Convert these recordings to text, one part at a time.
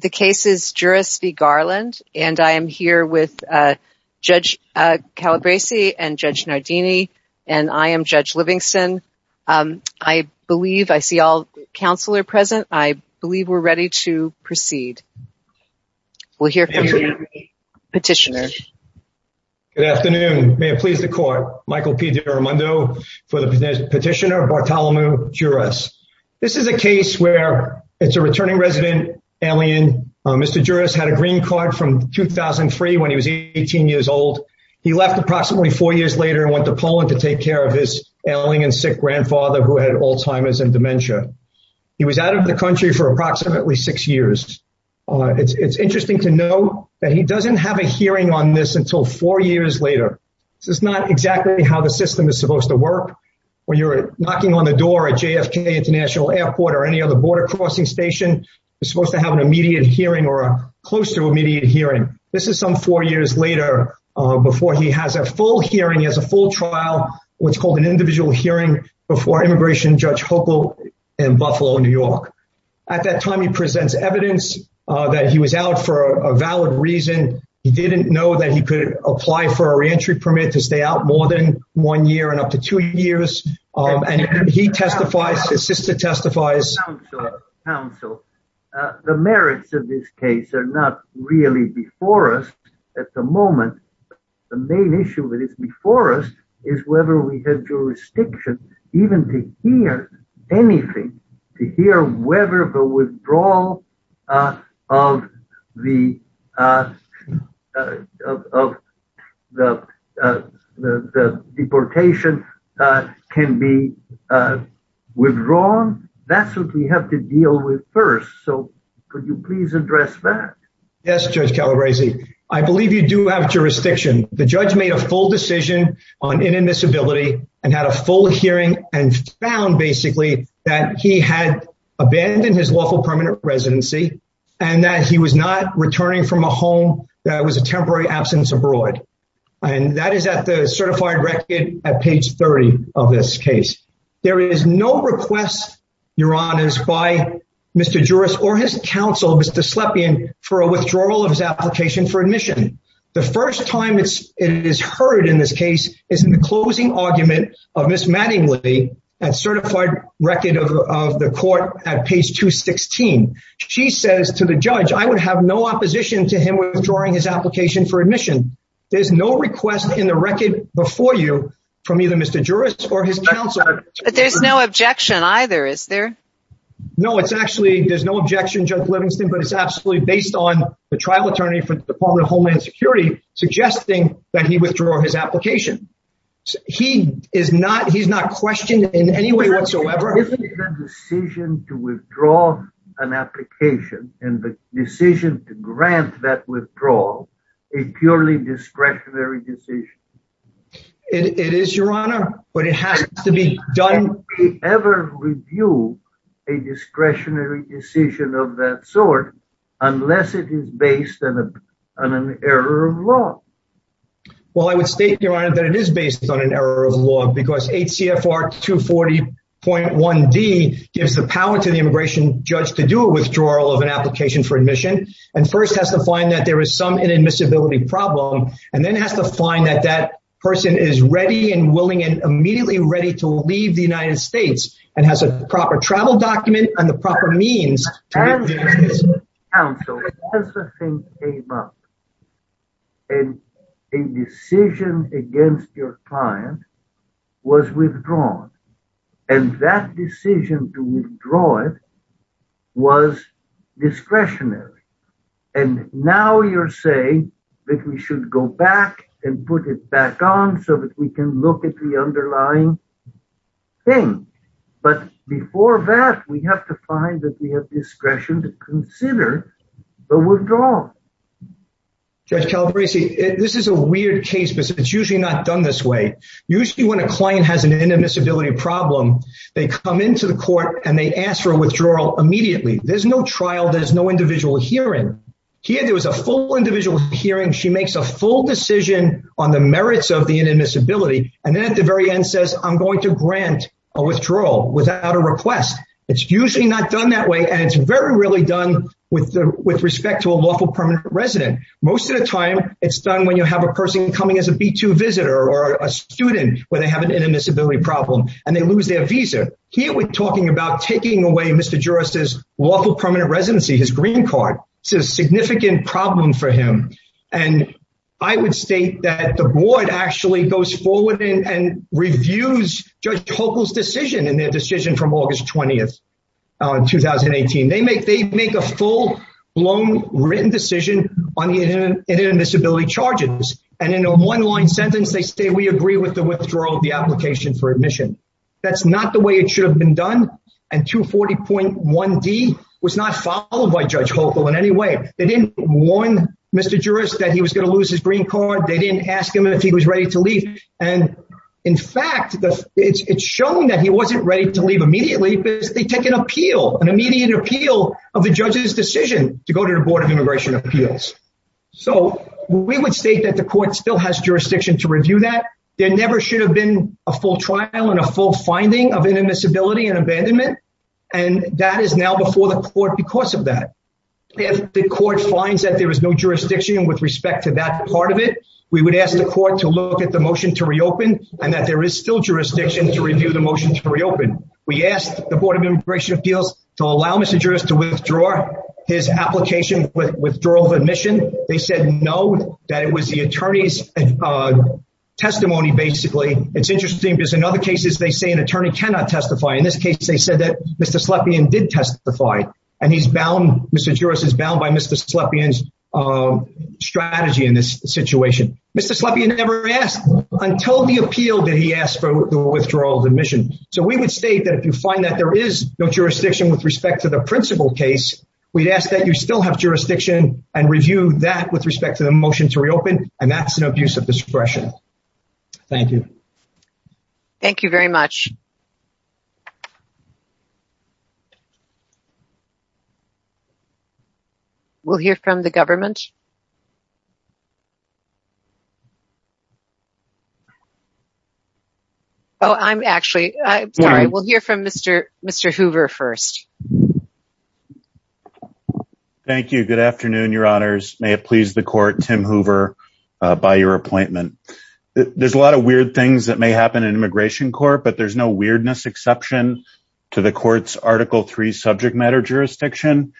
The case is Juras v. Garland, and I am here with Judge Calabresi and Judge Nardini, and I am Judge Livingston. I believe I see all counsel are present. I believe we're ready to proceed. We'll hear from the petitioner. Good afternoon. May it please the court, Michael P. DiRamondo for the petitioner Bartolomeu Juras. This is a case where it's a returning resident alien. Mr. Juras had a green card from 2003 when he was 18 years old. He left approximately four years later and went to Poland to take care of his ailing and sick grandfather who had Alzheimer's and dementia. He was out of the country for approximately six years. It's interesting to know that he doesn't have a hearing on this until four years later. This is not exactly how the system is supposed to work, where you're knocking on a door at JFK International Airport or any other border crossing station. You're supposed to have an immediate hearing or a close to immediate hearing. This is some four years later before he has a full hearing. He has a full trial, what's called an individual hearing before Immigration Judge Hochul in Buffalo, New York. At that time, he presents evidence that he was out for a valid reason. He didn't know that he could apply for a reentry permit to stay out more than one year and up to two years. His sister testifies. Counsel, the merits of this case are not really before us at the moment. The main issue that is before us is whether we have jurisdiction even to hear anything, to hear whether the withdrawal of the deportation can be withdrawn. That's what we have to deal with first. So could you please address that? Yes, Judge Calabresi. I believe you do have jurisdiction. The judge made a full decision on inadmissibility and had a full hearing and found basically that he had abandoned his lawful permanent residency and that he was not returning from a home that was a temporary absence abroad. And that is at the certified record at page 30 of this case. There is no request, Your Honors, by Mr. Juris or his counsel, Mr. Slepian, for a withdrawal of his application for admission. The first time it is heard in this case is in the closing argument of Ms. Mattingly at certified record of the court at page 216. She says to the judge, I would have no opposition to him withdrawing his application for admission. There's no request in the record before you from either Mr. Juris or his counsel. But there's no objection either, is there? No, it's actually, there's no objection, Judge Livingston, but it's absolutely based on the trial attorney for the Department of He's not questioned in any way whatsoever. Isn't the decision to withdraw an application and the decision to grant that withdrawal a purely discretionary decision? It is, Your Honor, but it has to be done. Can we ever review a discretionary decision of that sort unless it is based on an error of law? Well, I would state, Your Honor, that it is based on an error of law because H.C.F.R. 240.1d gives the power to the immigration judge to do a withdrawal of an application for admission and first has to find that there is some inadmissibility problem and then has to find that that person is ready and willing and immediately ready to leave the United States and has a proper travel document and the proper means. And as the thing came up and a decision against your client was withdrawn and that decision to withdraw it was discretionary. And now you're saying that we should go back and put it back on so that we can look at the underlying thing. But before that, we have to find that we have discretion to consider the withdrawal. Judge Calabresi, this is a weird case, but it's usually not done this way. Usually when a client has an inadmissibility problem, they come into the court and they ask for a withdrawal immediately. There's no trial. There's no individual hearing here. There was a full individual hearing. She makes a full decision on the merits of the inadmissibility and then at the very end says I'm going to grant a withdrawal without a request. It's usually not done that way. And it's very rarely done with respect to a lawful permanent resident. Most of the time it's done when you have a person coming as a B2 visitor or a student where they have an inadmissibility problem and they lose their visa. Here we're talking about taking away Mr. Juris' lawful permanent residency, his green card. It's a significant problem for him. And I would state that the board actually goes forward and reviews Judge Hochul's decision in their decision from August 20th, 2018. They make a full-blown written decision on inadmissibility charges. And in a one-line sentence, they say we agree with the withdrawal of the application for admission. That's not the it should have been done. And 240.1d was not followed by Judge Hochul in any way. They didn't warn Mr. Juris that he was going to lose his green card. They didn't ask him if he was ready to leave. And in fact, it's shown that he wasn't ready to leave immediately because they take an appeal, an immediate appeal of the judge's decision to go to the Board of Immigration Appeals. So we would state that the court still has jurisdiction to review that. There never should have been a full trial and a full finding of inadmissibility and abandonment. And that is now before the court because of that. If the court finds that there is no jurisdiction with respect to that part of it, we would ask the court to look at the motion to reopen and that there is still jurisdiction to review the motion to reopen. We asked the Board of Immigration Appeals to allow Mr. Juris to withdraw his application with withdrawal of admission. They said no, that it was the attorney's testimony, basically. It's interesting because in other cases, they say an attorney cannot testify. In this case, they said that Mr. Slepian did testify. And Mr. Juris is bound by Mr. Slepian's strategy in this situation. Mr. Slepian never asked until the appeal that he asked for the withdrawal of admission. So we would state that if you find that there is no jurisdiction with respect to the principal case, we'd ask that you still have jurisdiction and review that with respect to the motion to reopen. And that's an abuse of discretion. Thank you. Thank you very much. We'll hear from the government. Oh, I'm actually, I'm sorry, we'll hear from Mr. Hoover first. Thank you. Good afternoon, your honors. May it please the court, Tim Hoover, by your appointment. There's a lot of weird things that may happen in immigration court, but there's no weirdness exception to the court's Article III subject matter jurisdiction.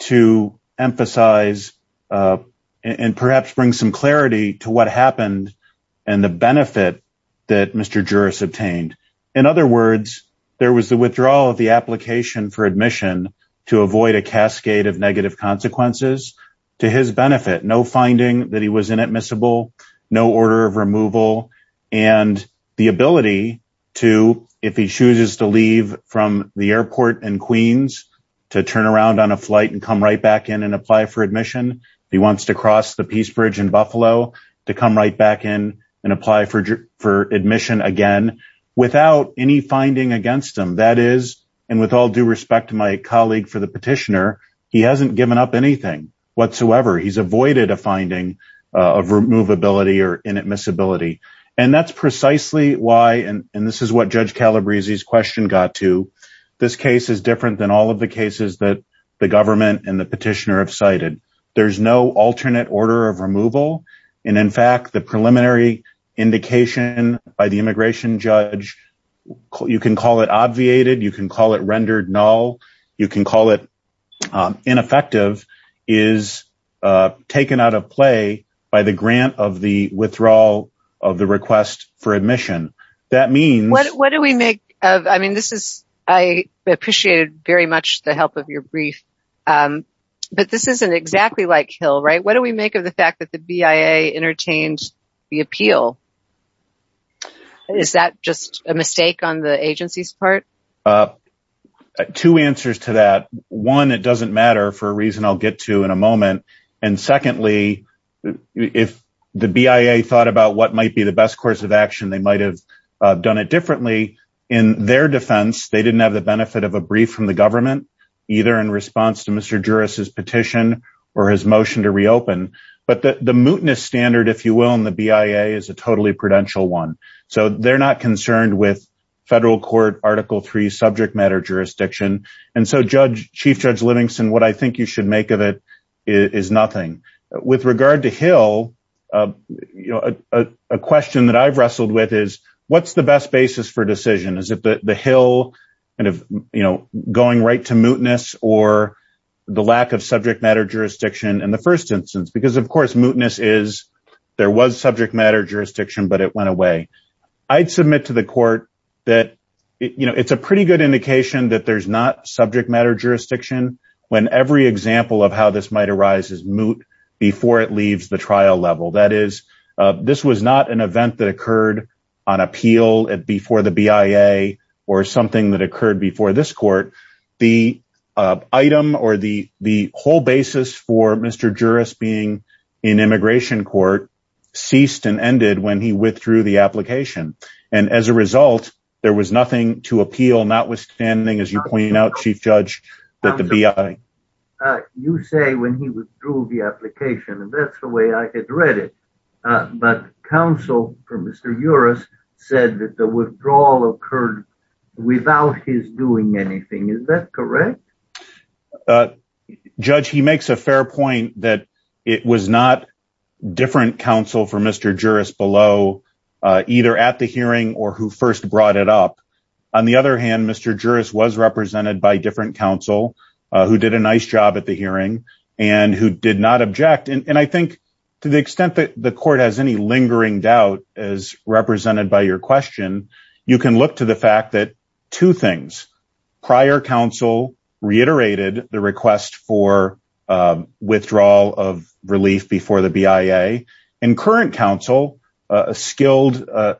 To emphasize and perhaps bring some clarity to what happened and the benefit that Mr. Juris obtained. In other words, there was the withdrawal of the application for admission to avoid a cascade of negative consequences to his benefit, no finding that he was inadmissible, no order of removal and the ability to, if he chooses to leave from the airport in Queens to turn around on a flight and come right back in and apply for admission, if he wants to cross the Peace Bridge in Buffalo to come right back in and apply for admission again, without any finding against him. That is, and with all due respect to my colleague for the petitioner, he hasn't given up anything whatsoever. He's avoided a finding of removability or inadmissibility. And that's precisely why, and this is what Judge Calabrese's question got to, this case is different than all the cases that the government and the petitioner have cited. There's no alternate order of removal. And in fact, the preliminary indication by the immigration judge, you can call it obviated, you can call it rendered null, you can call it ineffective, is taken out of play by the grant of the withdrawal of the request for admission. That means... What do we make of, I mean, this is, I appreciated very much the help of your brief, but this isn't exactly like Hill, right? What do we make of the fact that the BIA entertained the appeal? Is that just a mistake on the agency's part? Two answers to that. One, it doesn't matter for a reason I'll get to in a moment. And secondly, if the BIA thought about what might be the best course of action, they might have done it differently in their defense. They didn't have the benefit of a brief from the government, either in response to Mr. Juris's petition or his motion to reopen. But the mootness standard, if you will, in the BIA is a totally prudential one. So they're not concerned with federal court article three subject matter jurisdiction. And so Chief Judge Livingston, what I think you should make of it is nothing. With regard to Hill, a question that I've wrestled with is, what's the best basis for decision? Is it the Hill going right to mootness or the lack of subject matter jurisdiction in the first instance? Because of course, mootness is, there was subject matter jurisdiction, but it went away. I'd submit to the court that it's a pretty good indication that there's not subject matter jurisdiction when every example of how this might arise is moot before it leaves the trial level. That is, this was not an event that occurred on appeal before the BIA or something that occurred before this court. The item or the whole basis for Mr. Juris being in immigration court ceased and ended when he withdrew the application. And as a result, there was nothing to appeal notwithstanding, as you pointed out, Chief Judge, that the BIA. You say when he withdrew the application and that's the way I had read it. But counsel for Mr. Juris said that the withdrawal occurred without his doing anything. Is that correct? Judge, he makes a fair point that it was not different counsel for Mr. Juris below, either at the hearing or who first brought it up. On the other hand, Mr. Juris was represented by different counsel who did a nice job at the hearing and who did not object. And I think to the extent that the court has any lingering doubt as represented by your question, you can look to the fact that two things, prior counsel reiterated the request for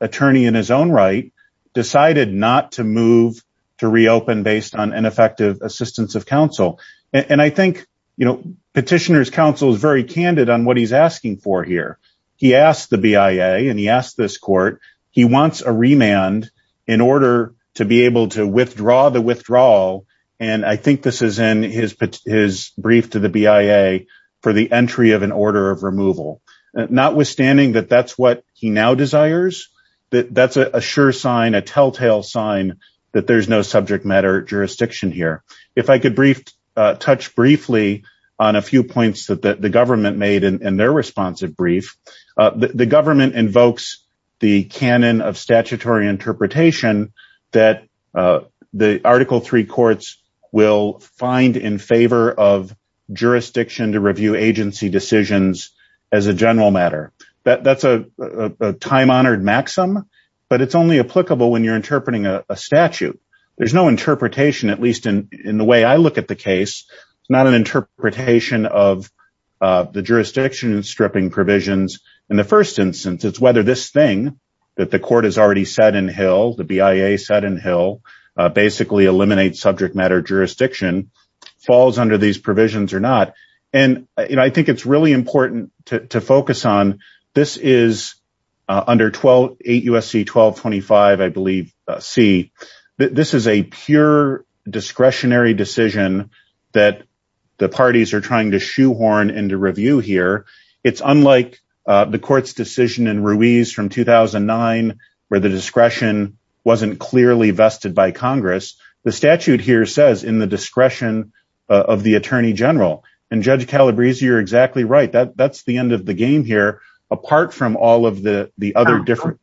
attorney in his own right, decided not to move to reopen based on ineffective assistance of counsel. And I think, you know, petitioner's counsel is very candid on what he's asking for here. He asked the BIA and he asked this court, he wants a remand in order to be able to withdraw the withdrawal. And I think this is in his brief to the BIA for the entry of an order of removal, notwithstanding that that's what he now desires, that that's a sure sign, a telltale sign that there's no subject matter jurisdiction here. If I could touch briefly on a few points that the government made in their responsive brief, the government invokes the canon of statutory interpretation that the article three courts will find in favor of jurisdiction to review agency decisions as a general matter. That's a time honored maxim, but it's only applicable when you're interpreting a statute. There's no interpretation, at least in the way I look at the case, not an interpretation of the jurisdiction stripping provisions. In the first instance, it's whether this thing that the court has already said in Hill, the BIA said in Hill, basically eliminate subject matter jurisdiction falls under these provisions or not. And I think it's really important to focus on this is under 12, 8 U.S.C. 1225, I believe, C. This is a pure discretionary decision that the parties are trying to shoehorn into review here. It's unlike the court's decision in Ruiz from 2009, where the discretion wasn't clearly vested by Congress. The statute here says in the discretion of the attorney general and Judge Calabrese, you're exactly right. That's the end of the game here, apart from all of the other different.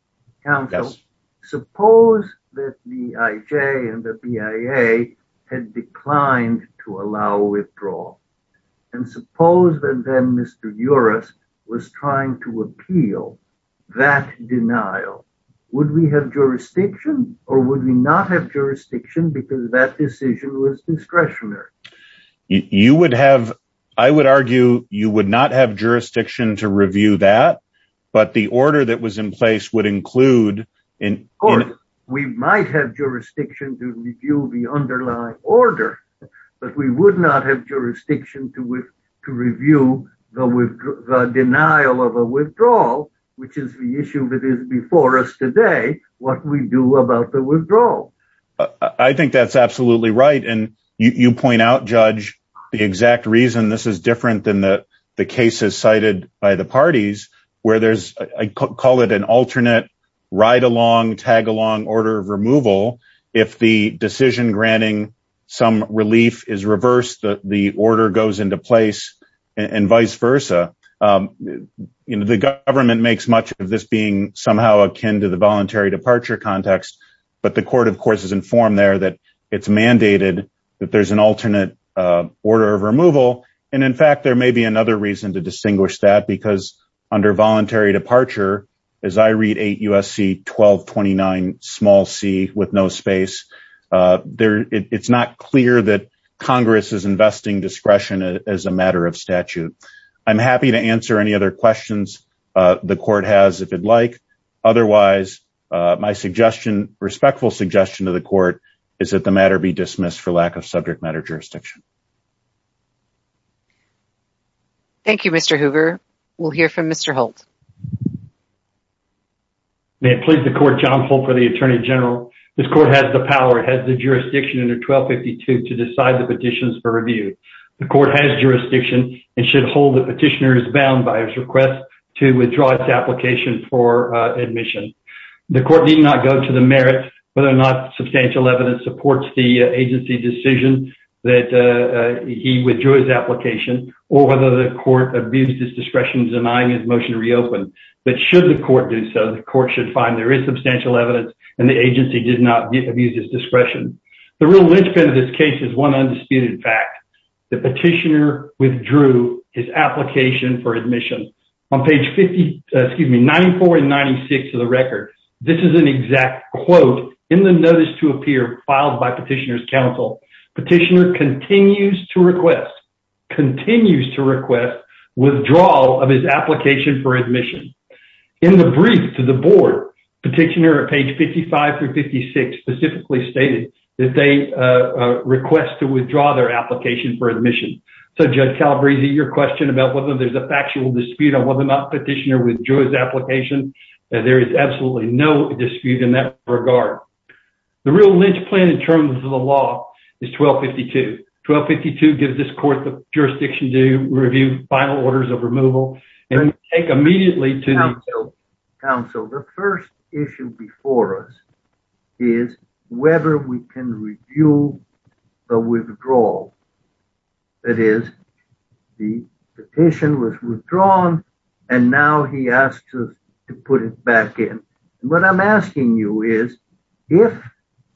Suppose that the IJ and the BIA had declined to allow withdrawal and suppose that then Mr. was trying to appeal that denial. Would we have jurisdiction or would we not have jurisdiction because that decision was discretionary? You would have, I would argue you would not have jurisdiction to review that, but the order that was in place would include. We might have jurisdiction to review the underlying order, but we would not have denial of a withdrawal, which is the issue that is before us today. What we do about the withdrawal. I think that's absolutely right. And you point out, Judge, the exact reason this is different than the cases cited by the parties where there's I call it an alternate ride along tag along order of removal. If the decision granting some relief is reversed, the order goes into place and vice versa. The government makes much of this being somehow akin to the voluntary departure context. But the court, of course, is informed there that it's mandated that there's an alternate order of removal. And in fact, there may be another reason to distinguish that because under voluntary departure, as I read 8 U.S.C. 1229 small c with no space there, it's not clear that I'm happy to answer any other questions the court has if you'd like. Otherwise, my suggestion, respectful suggestion to the court is that the matter be dismissed for lack of subject matter jurisdiction. Thank you, Mr. Hoover. We'll hear from Mr. Holt. May it please the court, John Holt for the Attorney General. This court has the power, has the jurisdiction under 1252 to decide the petitions for review. The court has jurisdiction and should hold the petitioners bound by his request to withdraw its application for admission. The court did not go to the merit, whether or not substantial evidence supports the agency decision that he withdrew his application or whether the court abused his discretion denying his motion to reopen. But should the court do so, the court should find there is substantial evidence and the agency did not abuse his discretion. The real linchpin of this case is one undisputed fact. The petitioner withdrew his application for admission on page 50, excuse me, 94 and 96 of the record. This is an exact quote in the notice to appear filed by petitioner's counsel. Petitioner continues to request, continues to request withdrawal of his application for admission. In the brief to the board, petitioner at page 55 through 56 specifically stated that they request to withdraw their application for admission. So Judge Calabresi, your question about whether there's a factual dispute on whether or not petitioner withdrew his application, there is absolutely no dispute in that regard. The real linchpin in terms of the law is 1252. 1252 gives this court the jurisdiction to review final orders of removal and take immediately to- counsel. The first issue before us is whether we can review the withdrawal. That is, the petition was withdrawn and now he asks us to put it back in. What I'm asking you is, if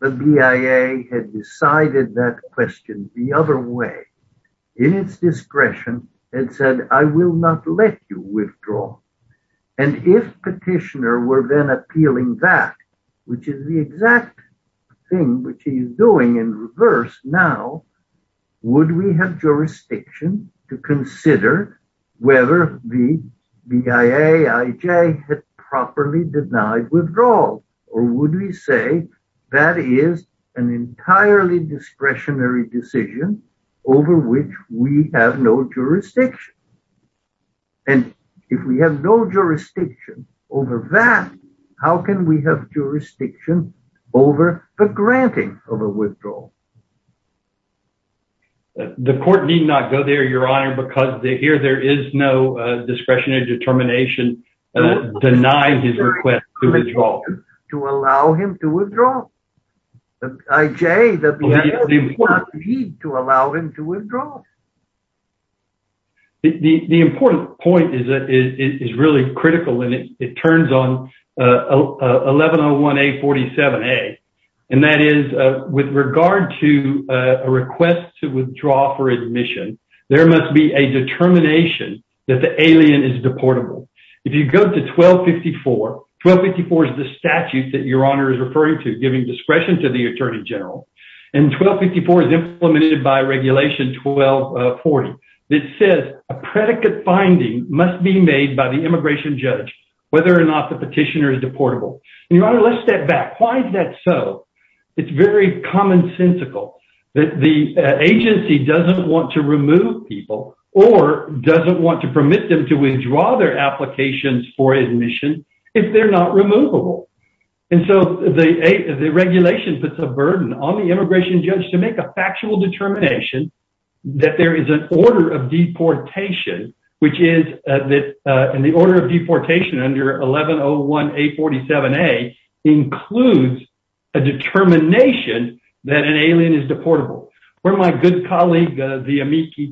the BIA had decided that question the other way, in its discretion, and said, I will not let you withdraw, and if petitioner were then appealing that, which is the exact thing which he is doing in reverse now, would we have jurisdiction to consider whether the BIAIJ had properly denied withdrawal? Or would we say that is an entirely discretionary decision over which we have no jurisdiction? And if we have no jurisdiction over that, how can we have jurisdiction over the granting of a withdrawal? The court need not go there, your honor, because here there is no discretionary determination denying his request to withdraw. To allow him to withdraw? The BIAIJ does not need to allow him to withdraw. The important point is really critical and it turns on 1101A47A, and that is, with regard to a request to withdraw for admission, there must be a determination that the alien is deportable. If you go to 1254, 1254 is the statute that your honor is referring to, giving discretion to the attorney general, and 1254 is implemented by regulation 1240. It says a predicate finding must be made by the immigration judge whether or not the petitioner is deportable. Your honor, let's step back. Why is that so? It's very commonsensical that the agency doesn't want to remove people or doesn't want to permit them to withdraw their applications for admission if they're not removable. And so the regulation puts a burden on the immigration judge to make a factual determination that there is an order of deportation, which is that in the order of deportation under 1101A47A includes a determination that an alien is deportable. Where my good colleague, the amicus,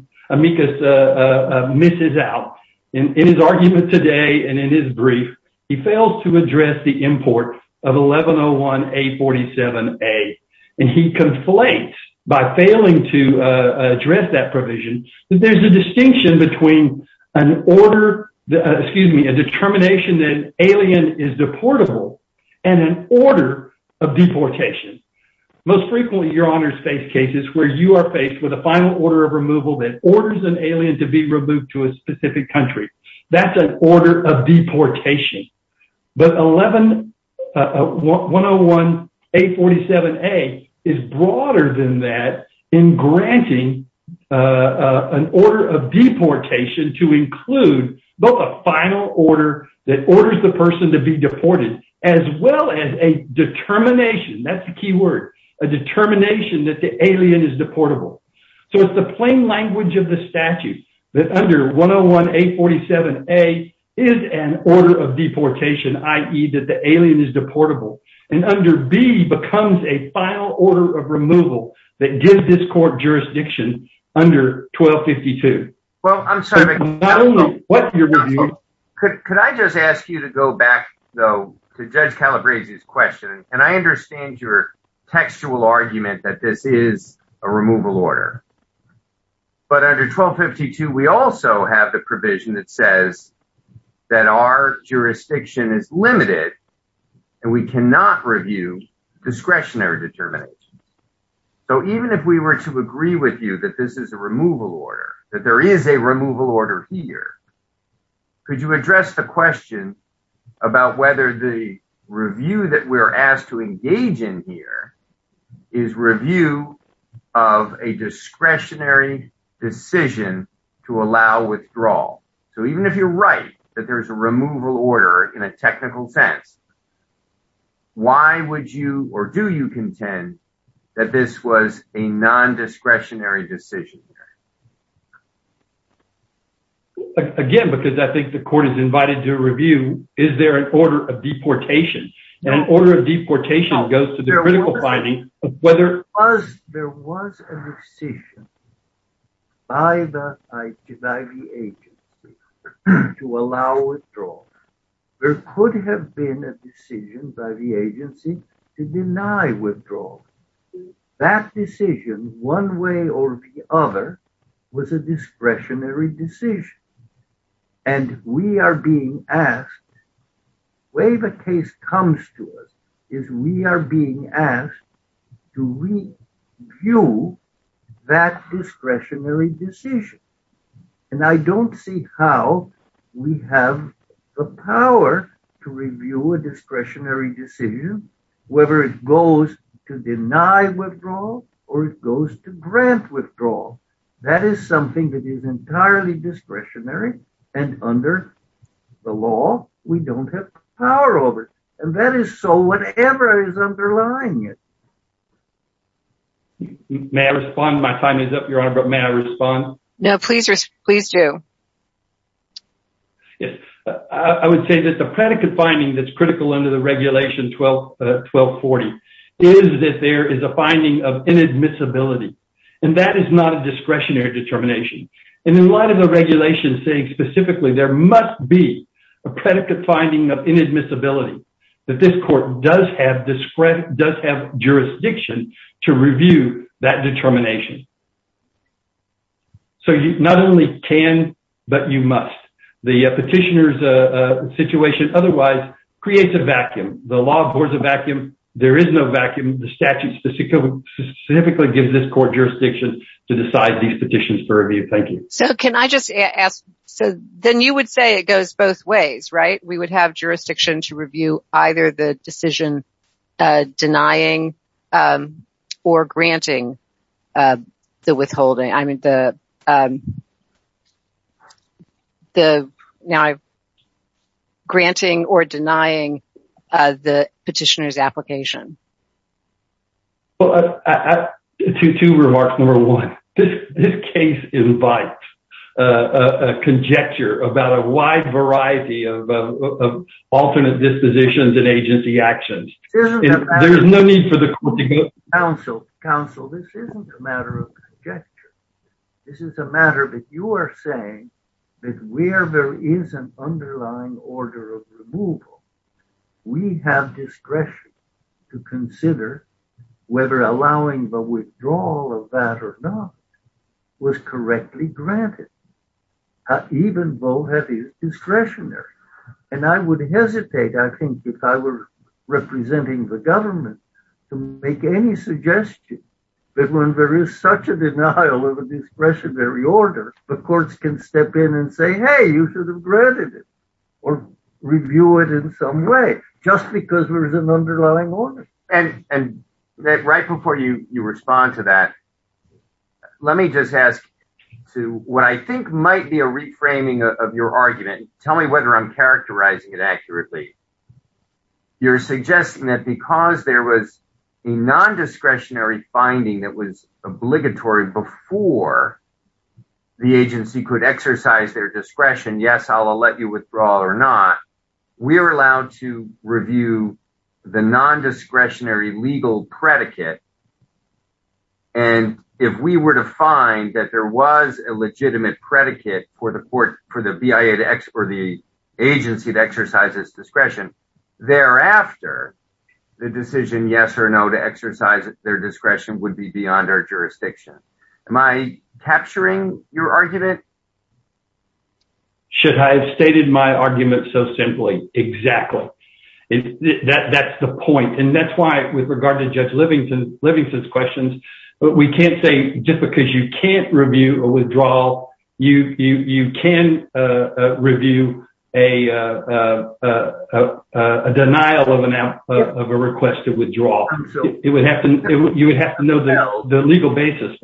misses out in his argument today and in his brief, he fails to address the import of 1101A47A, and he conflates by failing to address that provision that there's a distinction between an order, excuse me, a determination that an alien is deportable and an order of deportation. Most frequently, your honors, face cases where you are faced with a final order of removal that orders an alien to be removed to a specific country. That's an order of deportation. But 101A47A is broader than that in granting an order of deportation to include both a final order that a determination that the alien is deportable. So it's the plain language of the statute that under 101A47A is an order of deportation, i.e. that the alien is deportable, and under B becomes a final order of removal that gives this court jurisdiction under 1252. Well, I'm sorry. Could I just ask you to go back, though, to Judge Calabrese's question? And I understand your textual argument that this is a removal order. But under 1252, we also have the provision that says that our jurisdiction is limited, and we cannot review discretionary determinations. So even if we were to agree with you that this is a removal order, that there is a removal order here, could you address the question about whether the review that we're asked to engage in here is review of a discretionary decision to allow withdrawal? So even if you're right, that there's a removal order in a technical sense, why would you or do you contend that this was a non-discretionary decision? Again, because I think the court is invited to review, is there an order of deportation? And an order of deportation goes to the critical finding of whether... There was a decision by the agency to allow withdrawal. There could have been a decision by the agency to deny withdrawal. That decision, one way or the other, was a discretionary decision. And we are being asked, the way the case comes to us, is we are being asked to review that discretionary decision. And I don't see how we have the power to review a discretionary decision, whether it goes to deny withdrawal or it goes to grant withdrawal. That is something that is entirely discretionary. And under the law, we don't have power over it. And that is so whatever is underlying it. May I respond? My time is up, Your Honor, but may I respond? No, please do. Yes. I would say that the predicate finding that's critical under the regulation 1240 is that there is a finding of inadmissibility. And that is not a discretionary determination. And in light of the regulation saying specifically there must be a predicate finding of jurisdiction to review that determination. So you not only can, but you must. The petitioner's situation otherwise creates a vacuum. The law abhors a vacuum. There is no vacuum. The statute specifically gives this court jurisdiction to decide these petitions for review. Thank you. So can I just ask, so then you would say it goes both ways, right? We would have jurisdiction to denying or granting the withholding. I mean, now I'm granting or denying the petitioner's application. Well, two remarks. Number one, this case invites a conjecture about a wide variety of alternate dispositions and agency actions. There's no need for the court to go- Counsel, Counsel, this isn't a matter of conjecture. This is a matter that you are saying that where there is an underlying order of removal, we have discretion to consider whether allowing the withdrawal of that or not was correctly granted. Even though it's discretionary. And I would hesitate, I think, if I were representing the government to make any suggestion that when there is such a denial of a discretionary order, the courts can step in and say, hey, you should have granted it or review it in some way, just because there is an underlying order. And right before you respond to that, let me just ask to what I think might be a reframing of your argument, tell me whether I'm characterizing it accurately. You're suggesting that because there was a non-discretionary finding that was obligatory before the agency could exercise their discretion, yes, I'll let you know. And if we were to find that there was a legitimate predicate for the court, for the BIA to ex- or the agency to exercise its discretion, thereafter, the decision yes or no to exercise their discretion would be beyond our jurisdiction. Am I capturing your argument? Should I have stated my argument so simply? Exactly. That's the point. And that's why with regard to Judge Livingston's questions, we can't say, just because you can't review a withdrawal, you can review a denial of a request to withdraw. You would have to know the legal correct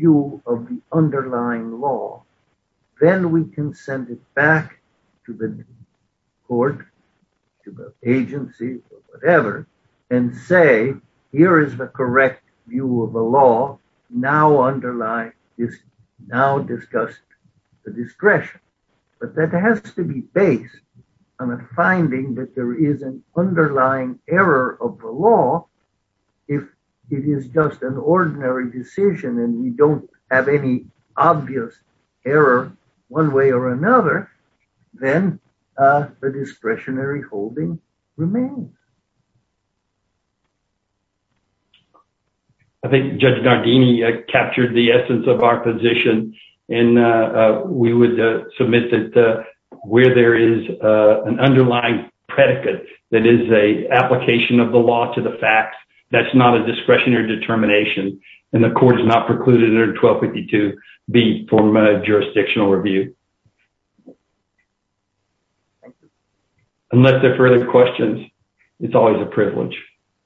view of the underlying law. Then we can send it back to the court, to the agency or whatever, and say, here is the correct view of the law, now underlined, is now discussed the discretion. But that has to be based on a finding that there is an underlying error of the it is just an ordinary decision and we don't have any obvious error one way or another, then the discretionary holding remains. I think Judge Nardini captured the essence of our position, and we would submit that where there is an underlying predicate that is a application of the law to the facts, that's not a discretionary determination, and the court has not precluded under 1252 be from a jurisdictional review. Unless there are further questions, it's always a privilege.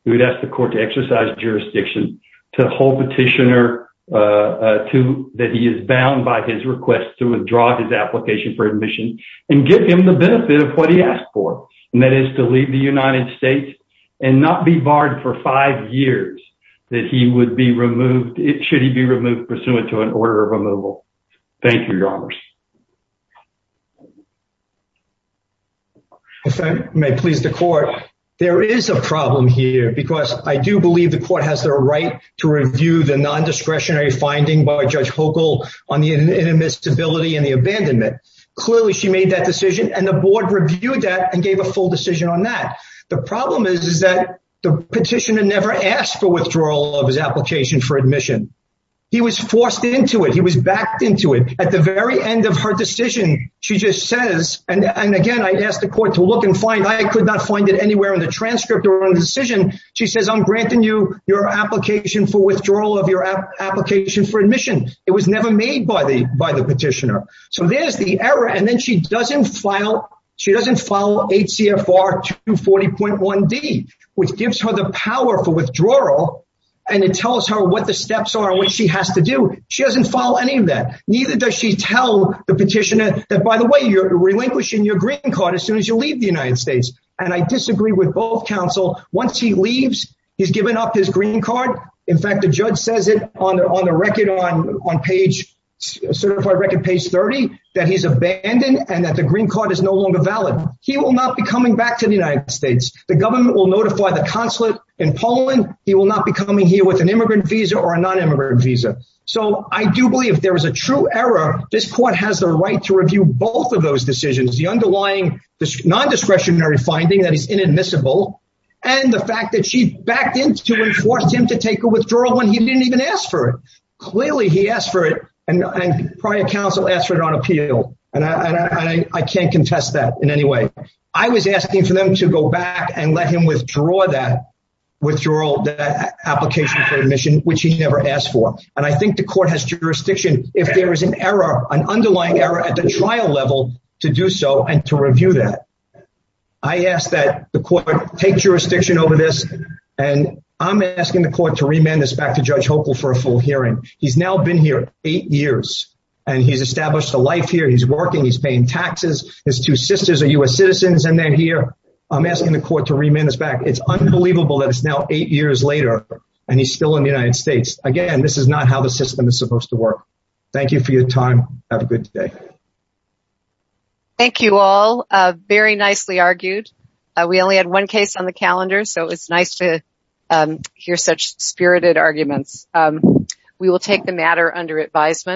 We would ask the court to exercise jurisdiction to hold petitioner to that he is bound by his request to withdraw his application for admission and give him the benefit of what he asked for, and that is to leave the United States and not be barred for five years that he would be removed, should he be removed pursuant to an order of removal. Thank you, Your Honors. If I may please the court, there is a problem here because I do believe the court has the right to review the non-discretionary finding by Judge Hochul on the inadmissibility and the abandonment. Clearly, she made that decision and the board reviewed that and gave a full decision on that. The problem is that the petitioner never asked for withdrawal of his application for admission. He was forced into it. He was backed into it. At the very end of her decision, she just says, and again, I asked the court to look and find, I could not find it anywhere in the transcript or on the decision. She says, I'm granting you your application for withdrawal of your application for admission. It was never made by the petitioner. So there's the error, and then she doesn't file 8 CFR 240.1D, which gives her the power for withdrawal, and it tells her what the steps are and what she has to do. She doesn't follow any of that. Neither does she tell the petitioner that, by the way, you're relinquishing your green card as soon as you leave the United States. I disagree with both counsel. Once he leaves, he's given up his green card. In fact, the judge says it on the certified record, page 30, that he's abandoned and that the green card is no longer valid. He will not be coming back to the United States. The government will notify the consulate in Poland. He will not be coming here with an immigrant visa or a non-immigrant visa. So I do believe there is a true error. This court has the right to review both of those decisions, the underlying non-discretionary finding that is inadmissible, and the fact that she backed into and forced him to take a withdrawal when he didn't even ask for it. Clearly, he asked for it, and prior counsel asked for it on appeal, and I can't contest that in any way. I was asking for them to go back and let him withdraw that application for admission, which he never asked for, and I think the court has jurisdiction, if there is an error, an underlying error at the trial level, to do so and to review that. I ask that the court take jurisdiction over this, and I'm asking the court to remand this back to Judge Hopel for a full hearing. He's now been here eight years, and he's established a life here. He's working. He's paying taxes. His two sisters are U.S. citizens, and they're here. I'm asking the court to remand this back. It's unbelievable that it's now eight years later, and he's still in the United States. Again, this is not how the system is supposed to work. Thank you for your time. Have a good day. Thank you all. Very nicely argued. We only had one calendar, so it was nice to hear such spirited arguments. We will take the matter under advisement.